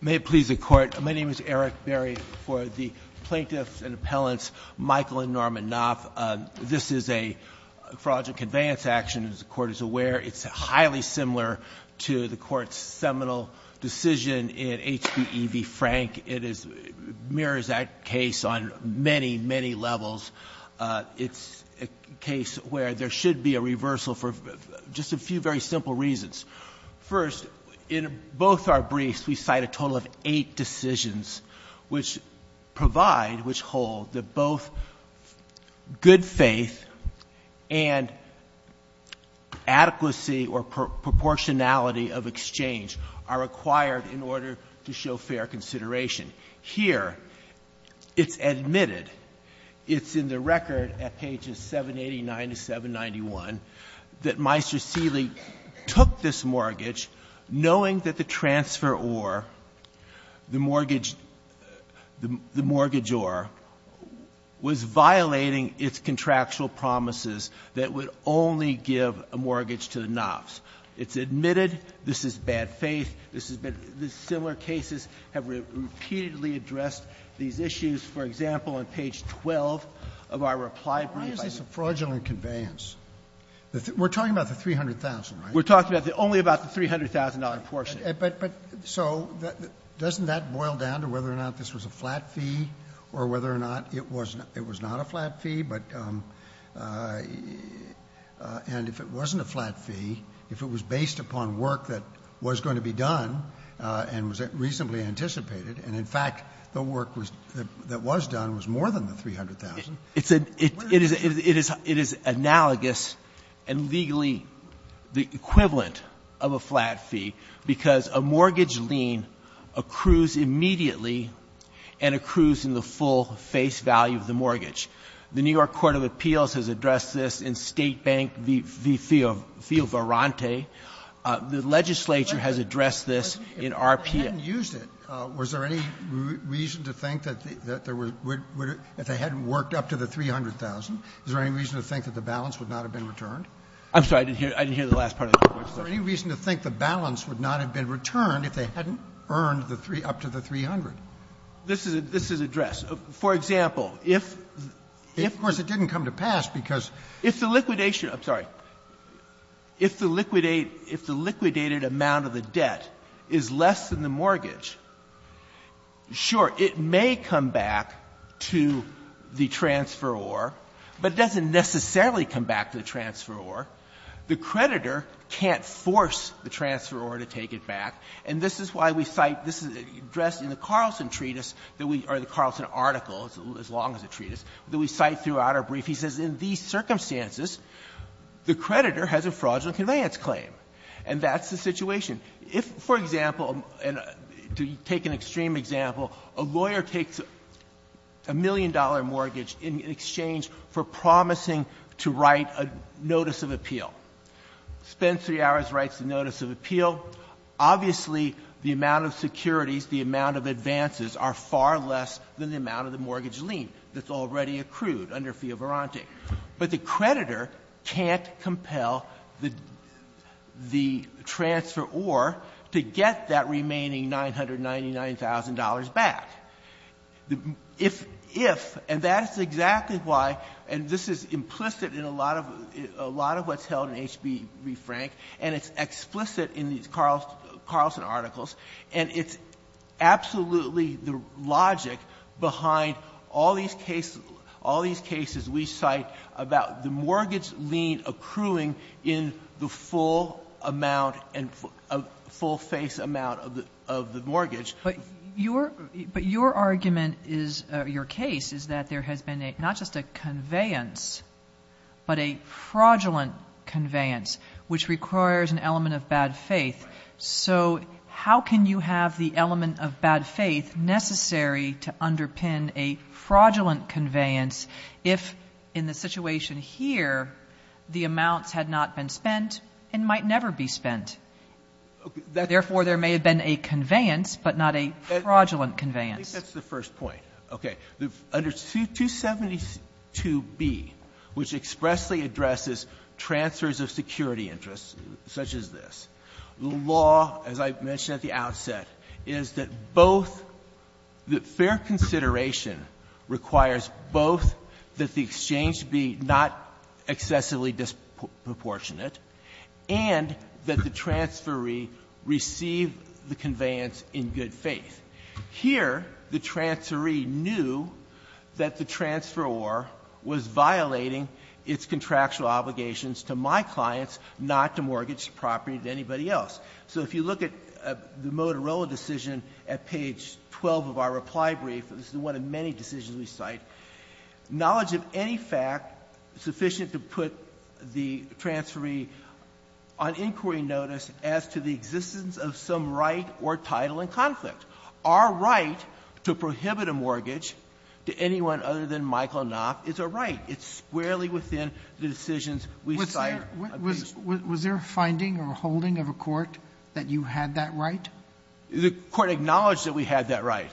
May it please the Court. My name is Eric Berry. For the plaintiffs and appellants, Michael and Norman Knopf, this is a fraudulent conveyance action, as the Court is aware. It's highly similar to the Court's seminal decision in HPE v. Frank. It mirrors that case on many, many levels. It's a case where there should be a reversal for just a few very simple reasons. First, in both our briefs, we cite a total of eight decisions which provide, which hold, that both good faith and adequacy or proportionality of exchange are required in order to show fair consideration. Here, it's admitted, it's in the record at pages 789 to 791, that Meister Seelig took this mortgage knowing that the transferor, the mortgage, the mortgagor, was violating its contractual promises that would only give a mortgage to the Knopfs. It's admitted, this is bad faith, this has been the similar cases have repeatedly addressed these issues. For example, on page 12 of our reply brief, I think we're talking about the $300,000, right? We're talking about the only about the $300,000 portion. But so doesn't that boil down to whether or not this was a flat fee or whether or not it was not a flat fee? And if it wasn't a flat fee, if it was based upon work that was going to be done and was reasonably anticipated, and, in fact, the work that was done was more than the $300,000, where is it? It is analogous and legally the equivalent of a flat fee because a mortgage lien accrues immediately and accrues in the full face value of the mortgage. The New York Court of Appeals has addressed this in State Bank v. FioVarante. The legislature has addressed this in RPA. Roberts. If they hadn't used it, was there any reason to think that if they hadn't worked up to the $300,000, is there any reason to think that the balance would not have been returned? I'm sorry. I didn't hear the last part of the question. Is there any reason to think the balance would not have been returned if they hadn't earned up to the $300,000? This is addressed. For example, if the liquidation of the debt is less than the mortgage, sure, it may come back to the transferor, but it doesn't necessarily come back to the transferor. The creditor can't force the transferor to take it back. And this is why we cite this is addressed in the Carlson treatise that we or the Carlson article, as long as the treatise, that we cite throughout our brief. He says in these circumstances, the creditor has a fraudulent conveyance claim. And that's the situation. If, for example, and to take an extreme example, a lawyer takes a million-dollar mortgage in exchange for promising to write a notice of appeal. Spends three hours, writes a notice of appeal. Obviously, the amount of securities, the amount of advances are far less than the amount of the mortgage lien that's already accrued under Fee of Verante. But the creditor can't compel the transferor to get that remaining $999,000 back. If, and that's exactly why, and this is implicit in a lot of what's held in H.B. Refrank, and it's explicit in these Carlson articles, and it's absolutely the logic behind all these cases we cite about the mortgage lien accruing in the full amount and full-face amount of the mortgage. Kagan. But your argument is, your case, is that there has been not just a conveyance, but a fraudulent conveyance, which requires an element of bad faith. So how can you have the element of bad faith necessary to underpin a fraudulent conveyance if, in the situation here, the amounts had not been spent and might never be spent? Therefore, there may have been a conveyance, but not a fraudulent conveyance. I think that's the first point. Okay. Under 272B, which expressly addresses transfers of security interest, such as this, the law, as I mentioned at the outset, is that both the fair consideration requires both that the exchange be not excessively disproportionate and that the transfer re received the conveyance in good faith. Here, the transfer re knew that the transferor was violating its contractual obligations to my clients, not to mortgage property to anybody else. So if you look at the Motorola decision at page 12 of our reply brief, this is one of many decisions we cite, knowledge of any fact sufficient to put the transfer re on inquiry notice as to the existence of some right or title in conflict. Our right to prohibit a mortgage to anyone other than Michael Knopf is a right. It's squarely within the decisions we cite. Was there a finding or a holding of a court that you had that right? The court acknowledged that we had that right.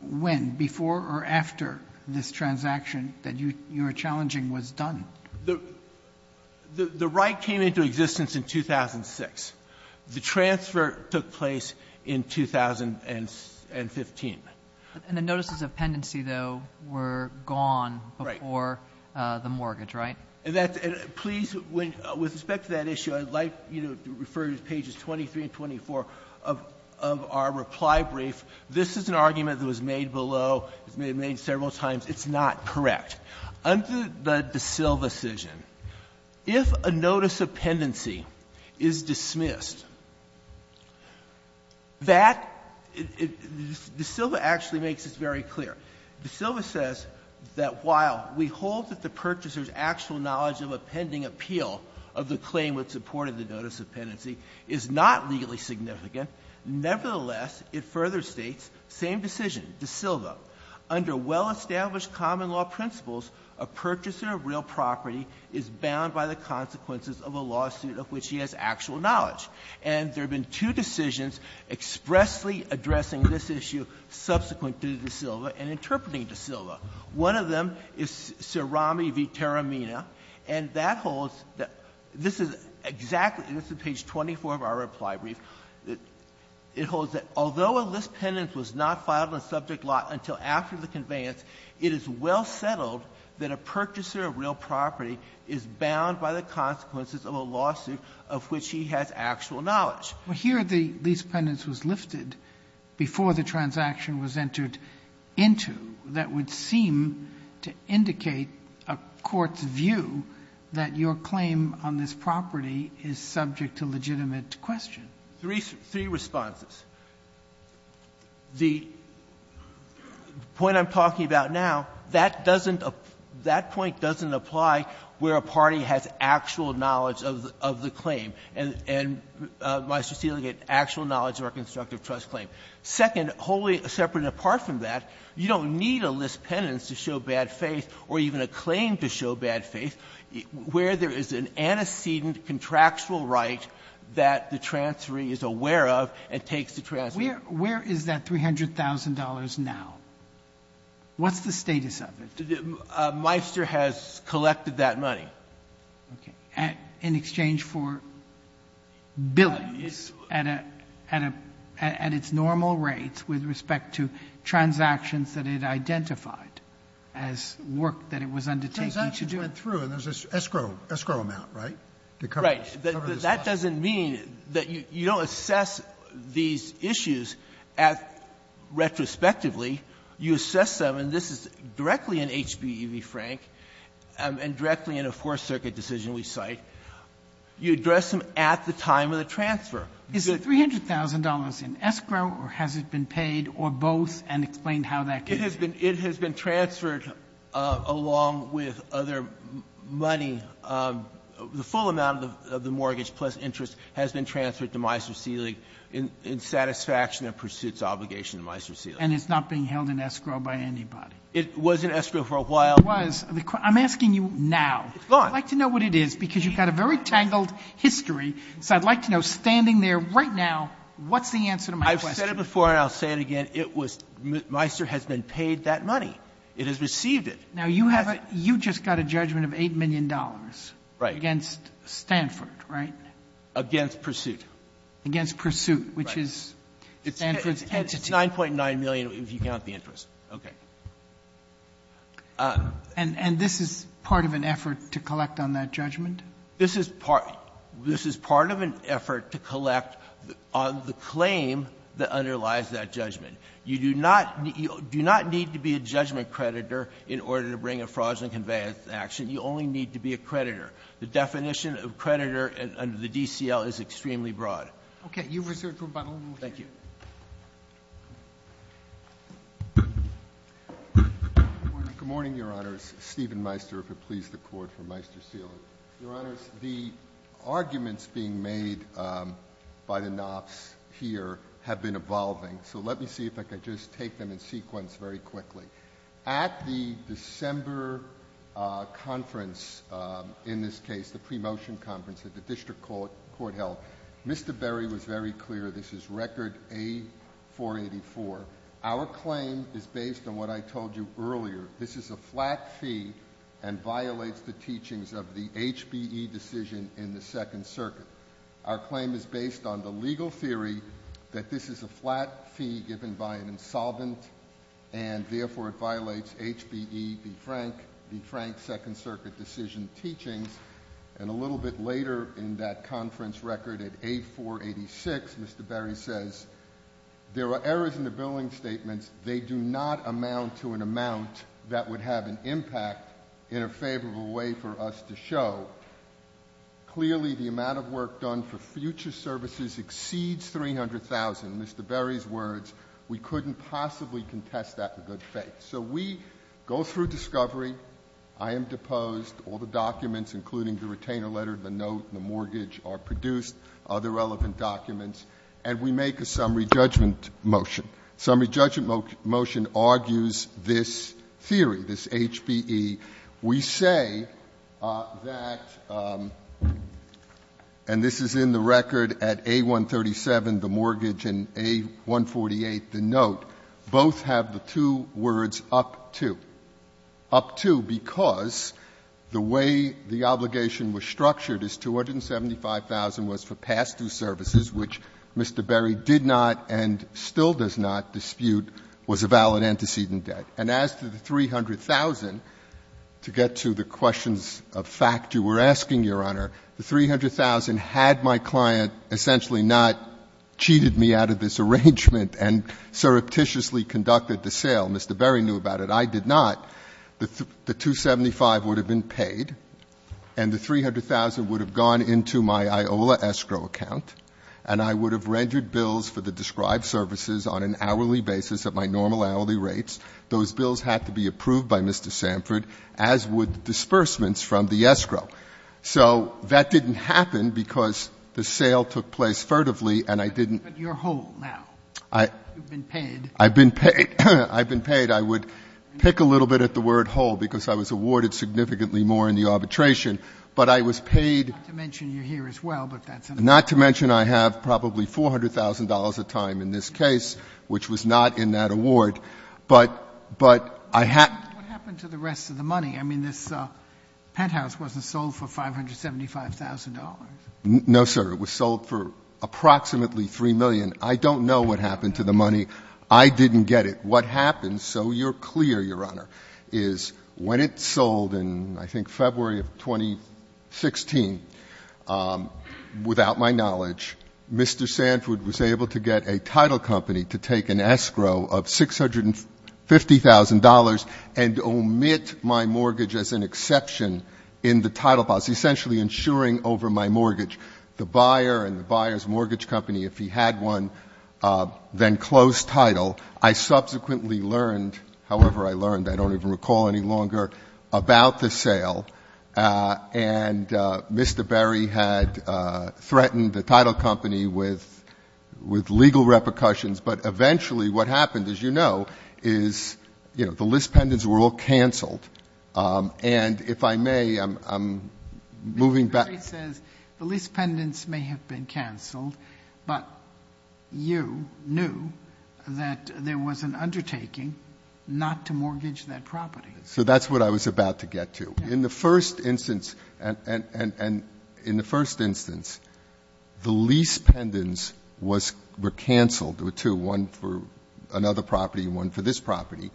When? Before or after this transaction that you're challenging was done? The right came into existence in 2006. The transfer took place in 2015. And the notices of pendency, though, were gone before the mortgage, right? And that's – please, with respect to that issue, I'd like to refer you to pages 23 and 24 of our reply brief. This is an argument that was made below, it was made several times. It's not correct. Under the De Silva decision, if a notice of pendency is dismissed, that – De Silva actually makes this very clear. De Silva says that while we hold that the purchaser's actual knowledge of a pending appeal of the claim with support of the notice of pendency is not legally significant, nevertheless, it further states, same decision, De Silva, under well-established common law principles, a purchaser of real property is bound by the consequences of a lawsuit of which he has actual knowledge. And there have been two decisions expressly addressing this issue subsequent to De Silva and interpreting De Silva. One of them is Cerami v. Teramina, and that holds – this is exactly – this is page 24 of our reply brief. It holds that although a list pendant was not filed in subject law until after the conveyance, it is well settled that a purchaser of real property is bound by the consequences of a lawsuit of which he has actual knowledge. Sotomayor, here the list pendant was lifted before the transaction was entered into. That would seem to indicate a court's view that your claim on this property is subject to legitimate question. Three responses. The point I'm talking about now, that doesn't – that point doesn't apply where a party has actual knowledge of the claim and, Mr. Steele, get actual knowledge of our constructive trust claim. Second, wholly separate and apart from that, you don't need a list pendant to show bad faith or even a claim to show bad faith where there is an antecedent contractual right that the transferee is aware of and takes the transaction. Where is that $300,000 now? What's the status of it? Meister has collected that money. Okay. In exchange for billings at a – at its normal rate with respect to transactions that it identified as work that it was undertaking to do? The transaction went through and there's an escrow amount, right? Right. That doesn't mean that you don't assess these issues retrospectively. You assess them, and this is directly in HB v. Frank and directly in a Fourth Circuit decision we cite. You address them at the time of the transfer. Is the $300,000 in escrow or has it been paid, or both, and explain how that could be? It has been transferred along with other money. The full amount of the mortgage plus interest has been transferred to Meister Seelig in satisfaction of pursuits obligation to Meister Seelig. And it's not being held in escrow by anybody? It was in escrow for a while. It was. I'm asking you now. It's gone. I'd like to know what it is, because you've got a very tangled history. So I'd like to know, standing there right now, what's the answer to my question? I've said it before and I'll say it again. It was Meister has been paid that money. It has received it. Now, you have a you just got a judgment of $8 million against Stanford, right? Against pursuit. Against pursuit, which is Stanford's entity. It's $9.9 million if you count the interest. Okay. And this is part of an effort to collect on that judgment? This is part of an effort to collect on the claim that underlies that judgment. You do not need to be a judgment creditor in order to bring a fraudulent conveyance action. You only need to be a creditor. The definition of creditor under the DCL is extremely broad. Okay. You reserved for about a little more time. Thank you. Good morning, Your Honors. Stephen Meister, if it please the Court, for Meister Seelig. Your Honors, the arguments being made by the knobs here have been evolving. So, let me see if I could just take them in sequence very quickly. At the December conference, in this case, the pre-motion conference that the District Court held, Mr. Berry was very clear this is record A484. Our claim is based on what I told you earlier. This is a flat fee and violates the teachings of the HBE decision in the Second Circuit. Our claim is based on the legal theory that this is a flat fee given by an insolvent and, therefore, it violates HBE, the Frank, the Frank Second Circuit decision teachings. And a little bit later in that conference record at A486, Mr. Berry says, there are errors in the billing statements. They do not amount to an amount that would have an impact in a favorable way for us to show. Clearly, the amount of work done for future services exceeds 300,000. In Mr. Berry's words, we couldn't possibly contest that with good faith. So, we go through discovery. I am deposed. All the documents, including the retainer letter, the note, and the mortgage are produced, other relevant documents, and we make a summary judgment motion. Summary judgment motion argues this theory, this HBE. We say that, and this is in the record at A137, the mortgage, and A148, the note, both have the two words, up to. Up to, because the way the obligation was structured is 275,000 was for past due services, which Mr. Berry did not and still does not dispute was a valid antecedent debt. And as to the 300,000, to get to the questions of fact you were asking, Your Honor, the 300,000 had my client essentially not cheated me out of this arrangement and surreptitiously conducted the sale, Mr. Berry knew about it, I did not, the 275 would have been paid, and the 300,000 would have gone into my IOLA escrow account, and I would have rendered bills for the described services on an hourly rates, those bills had to be approved by Mr. Samford, as would disbursements from the escrow. So that didn't happen because the sale took place furtively, and I didn't. Sotomayor, but you're whole now. You've been paid. I've been paid. I've been paid. I would pick a little bit at the word whole because I was awarded significantly more in the arbitration, but I was paid. Not to mention you're here as well, but that's another. Not to mention I have probably $400,000 a time in this case, which was not in that award, but I had... What happened to the rest of the money? I mean, this penthouse wasn't sold for $575,000. No, sir. It was sold for approximately $3 million. I don't know what happened to the money. I didn't get it. What happened, so you're clear, Your Honor, is when it sold in, I think, February of 2016, without my knowledge, Mr. Samford was able to get a title company to take an escrow of $650,000 and omit my mortgage as an exception in the title policy, essentially insuring over my mortgage. The buyer and the buyer's mortgage company, if he had one, then closed title. I subsequently learned, however I learned, I don't even recall any longer, about the sale, and Mr. Berry had threatened the title company with legal repercussions, but eventually what happened, as you know, is, you know, the lease pendants were all canceled, and if I may, I'm moving back... Mr. Berry says the lease pendants may have been canceled, but you knew that there was an undertaking not to mortgage that property. So that's what I was about to get to. In the first instance, and in the first instance, the lease pendants were canceled, there were two, one for another property and one for this property,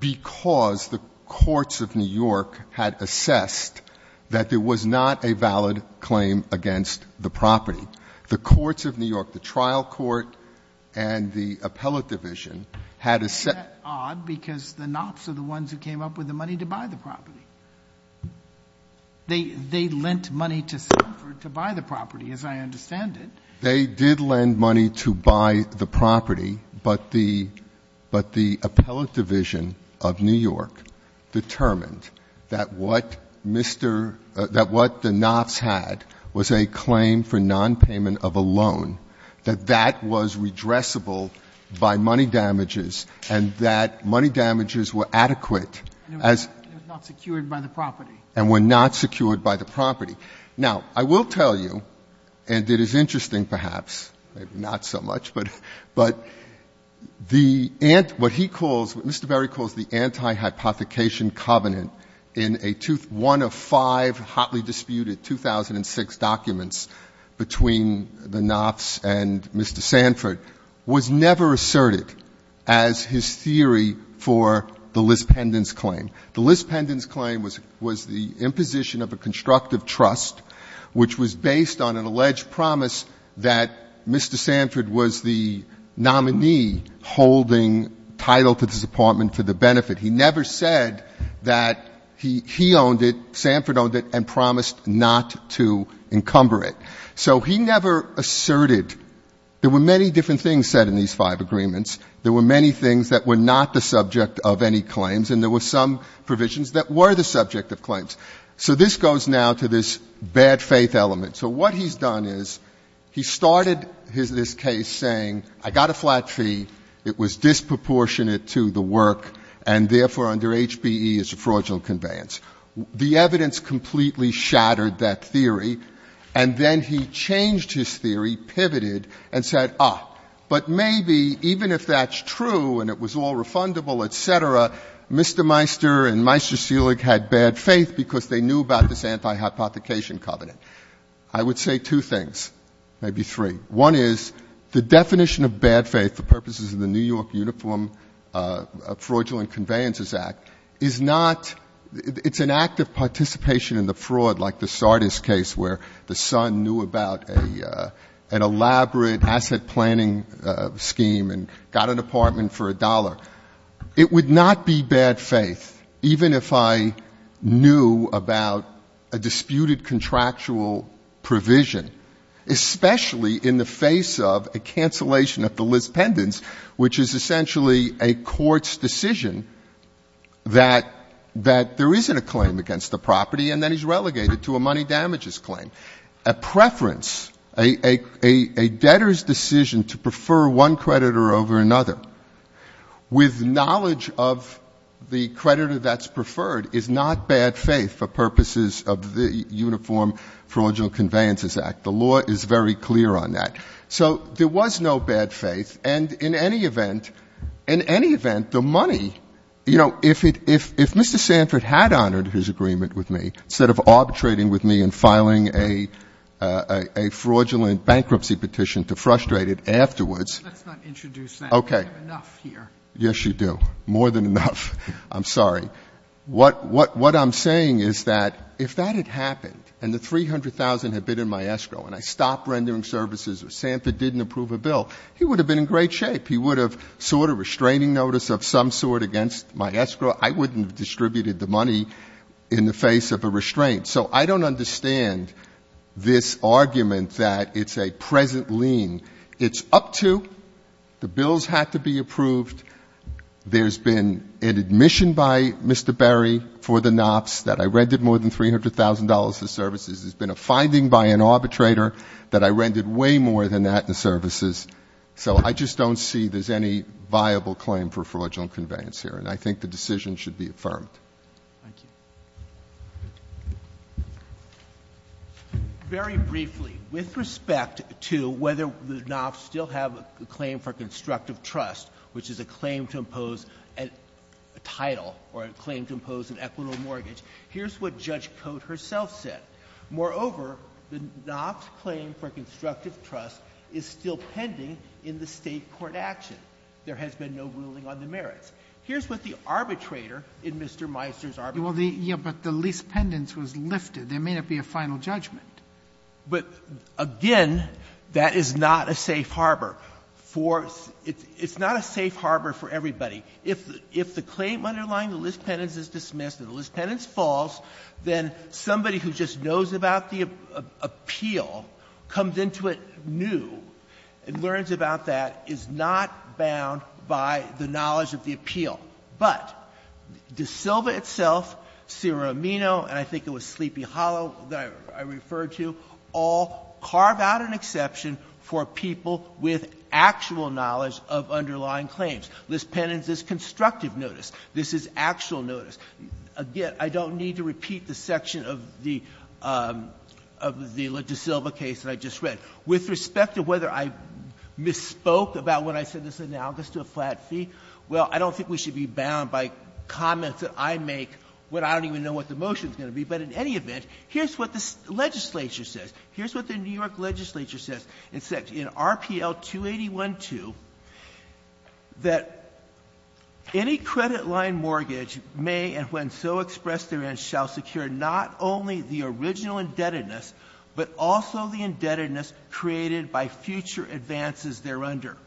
because the courts of New York had assessed that there was not a valid claim against the property. The courts of New York, the trial court and the appellate division had assessed... Isn't that odd, because the Knops are the ones who came up with the money to buy the property. They lent money to Samford to buy the property, as I understand it. They did lend money to buy the property, but the appellate division of New York determined that what the Knops had was a claim for nonpayment of a loan, that that was redressable by money damages, and that money damages were adequate as... It was not secured by the property. And were not secured by the property. Now, I will tell you, and it is interesting perhaps, maybe not so much, but the ant... What he calls... What Mr. Berry calls the anti-hypothecation covenant in a two... One of five hotly disputed 2006 documents between the Knops and Mr. Samford was never asserted as his theory for the lease pendants claim. The lease pendants claim was the imposition of a constructive trust, which was based on an alleged promise that Mr. Samford was the nominee holding title to this apartment for the benefit. He never said that he owned it, Samford owned it, and promised not to encumber it. So he never asserted... There were many different things said in these five agreements. There were many things that were not the subject of any claims. And there were some provisions that were the subject of claims. So this goes now to this bad faith element. So what he's done is, he started this case saying, I got a flat fee, it was disproportionate to the work, and therefore under HBE is a fraudulent conveyance. The evidence completely shattered that theory. And then he changed his theory, pivoted, and said, ah, but maybe even if that's true, and it was all refundable, et cetera, Mr. Meister and Meister Selig had bad faith because they knew about this anti-hypothecation covenant. I would say two things, maybe three. One is, the definition of bad faith for purposes of the New York Uniform Fraudulent Conveyances Act, is not... It's an act of participation in the fraud, like the Sardis case, where the son knew about an elaborate asset planning scheme and got an apartment for a dollar. It would not be bad faith, even if I knew about a disputed contractual provision, especially in the face of a cancellation of the list pendants, which is essentially a court's decision that there isn't a claim against the property, and then he's relegated to a money damages claim. A preference, a debtor's decision to prefer one creditor over another, with knowledge of the creditor that's preferred, is not bad faith for purposes of the Uniform Fraudulent Conveyances Act. The law is very clear on that. So there was no bad faith, and in any event, the money, you know, if Mr. Sanford had honored his agreement with me, instead of arbitrating with me and filing a fraudulent bankruptcy petition to frustrate it afterwards... Let's not introduce that. Okay. We have enough here. Yes, you do. More than enough. I'm sorry. What I'm saying is that if that had happened and the $300,000 had been in my escrow and I stopped rendering services or Sanford didn't approve a bill, he would have been in great shape. He would have sought a restraining notice of some sort against my escrow. I wouldn't have distributed the money in the face of a restraint. So I don't understand this argument that it's a present lien. It's up to, the bills have to be approved. There's been an admission by Mr. Berry for the NOPS that I rendered more than $300,000 in services. There's been a finding by an arbitrator that I rendered way more than that in services. So I just don't see there's any viable claim for fraudulent conveyance here, and I think the decision should be affirmed. Thank you. Very briefly, with respect to whether the NOPS still have a claim for constructive trust, which is a claim to impose a title or a claim to impose an equitable mortgage, here's what Judge Cote herself said. Moreover, the NOPS claim for constructive trust is still pending in the State court action. There has been no ruling on the merits. Here's what the arbitrator in Mr. Meisner's argument said. Yeah, but the lease pendants was lifted. There may not be a final judgment. But, again, that is not a safe harbor for — it's not a safe harbor for everybody. If the claim underlying the lease pendants is dismissed and the lease pendants falls, then somebody who just knows about the appeal comes into it new and learns about that, is not bound by the knowledge of the appeal. But De Silva itself, Seramino, and I think it was Sleepy Hollow that I referred to, all carve out an exception for people with actual knowledge of underlying claims. Lease pendants is constructive notice. This is actual notice. Again, I don't need to repeat the section of the — of the De Silva case that I just spoke about when I said this is analogous to a flat fee. Well, I don't think we should be bound by comments that I make when I don't even know what the motion is going to be. But in any event, here's what the legislature says. Here's what the New York legislature says. It says in RPL 281-2 that any credit line mortgage may and when so expressed therein shall secure not only the original indebtedness, but also the indebtedness created by future advances thereunder,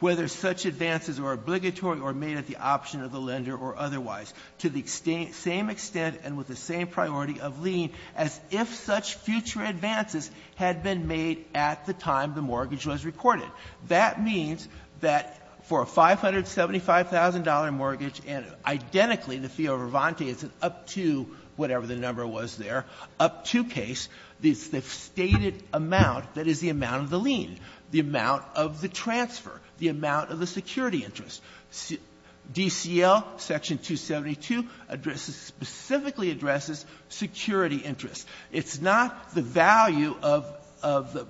whether such advances are obligatory or made at the option of the lender or otherwise, to the same extent and with the same priority of lien as if such future advances had been made at the time the mortgage was recorded. That means that for a $575,000 mortgage, and identically, the fee of Vervante is an up-to-whatever-the-number-was-there, up-to case, the stated amount that is the amount of the lien, the amount of the transfer, the amount of the security interest. DCL Section 272 addresses — specifically addresses security interest. It's not the value of the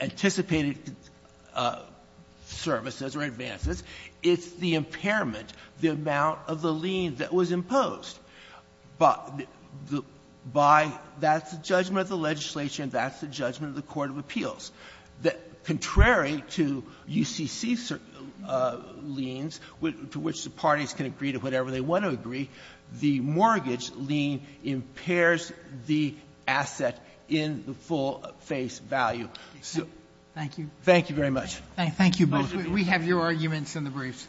anticipated services or advances. It's the impairment, the amount of the lien that was imposed by the — by — that's the judgment of the legislature and that's the judgment of the court of appeals. Contrary to UCC liens, to which the parties can agree to whatever they want to agree, the mortgage lien impairs the asset in the full face value. So — Sotomayor, thank you. Thank you very much. Thank you both. We have your arguments in the briefs.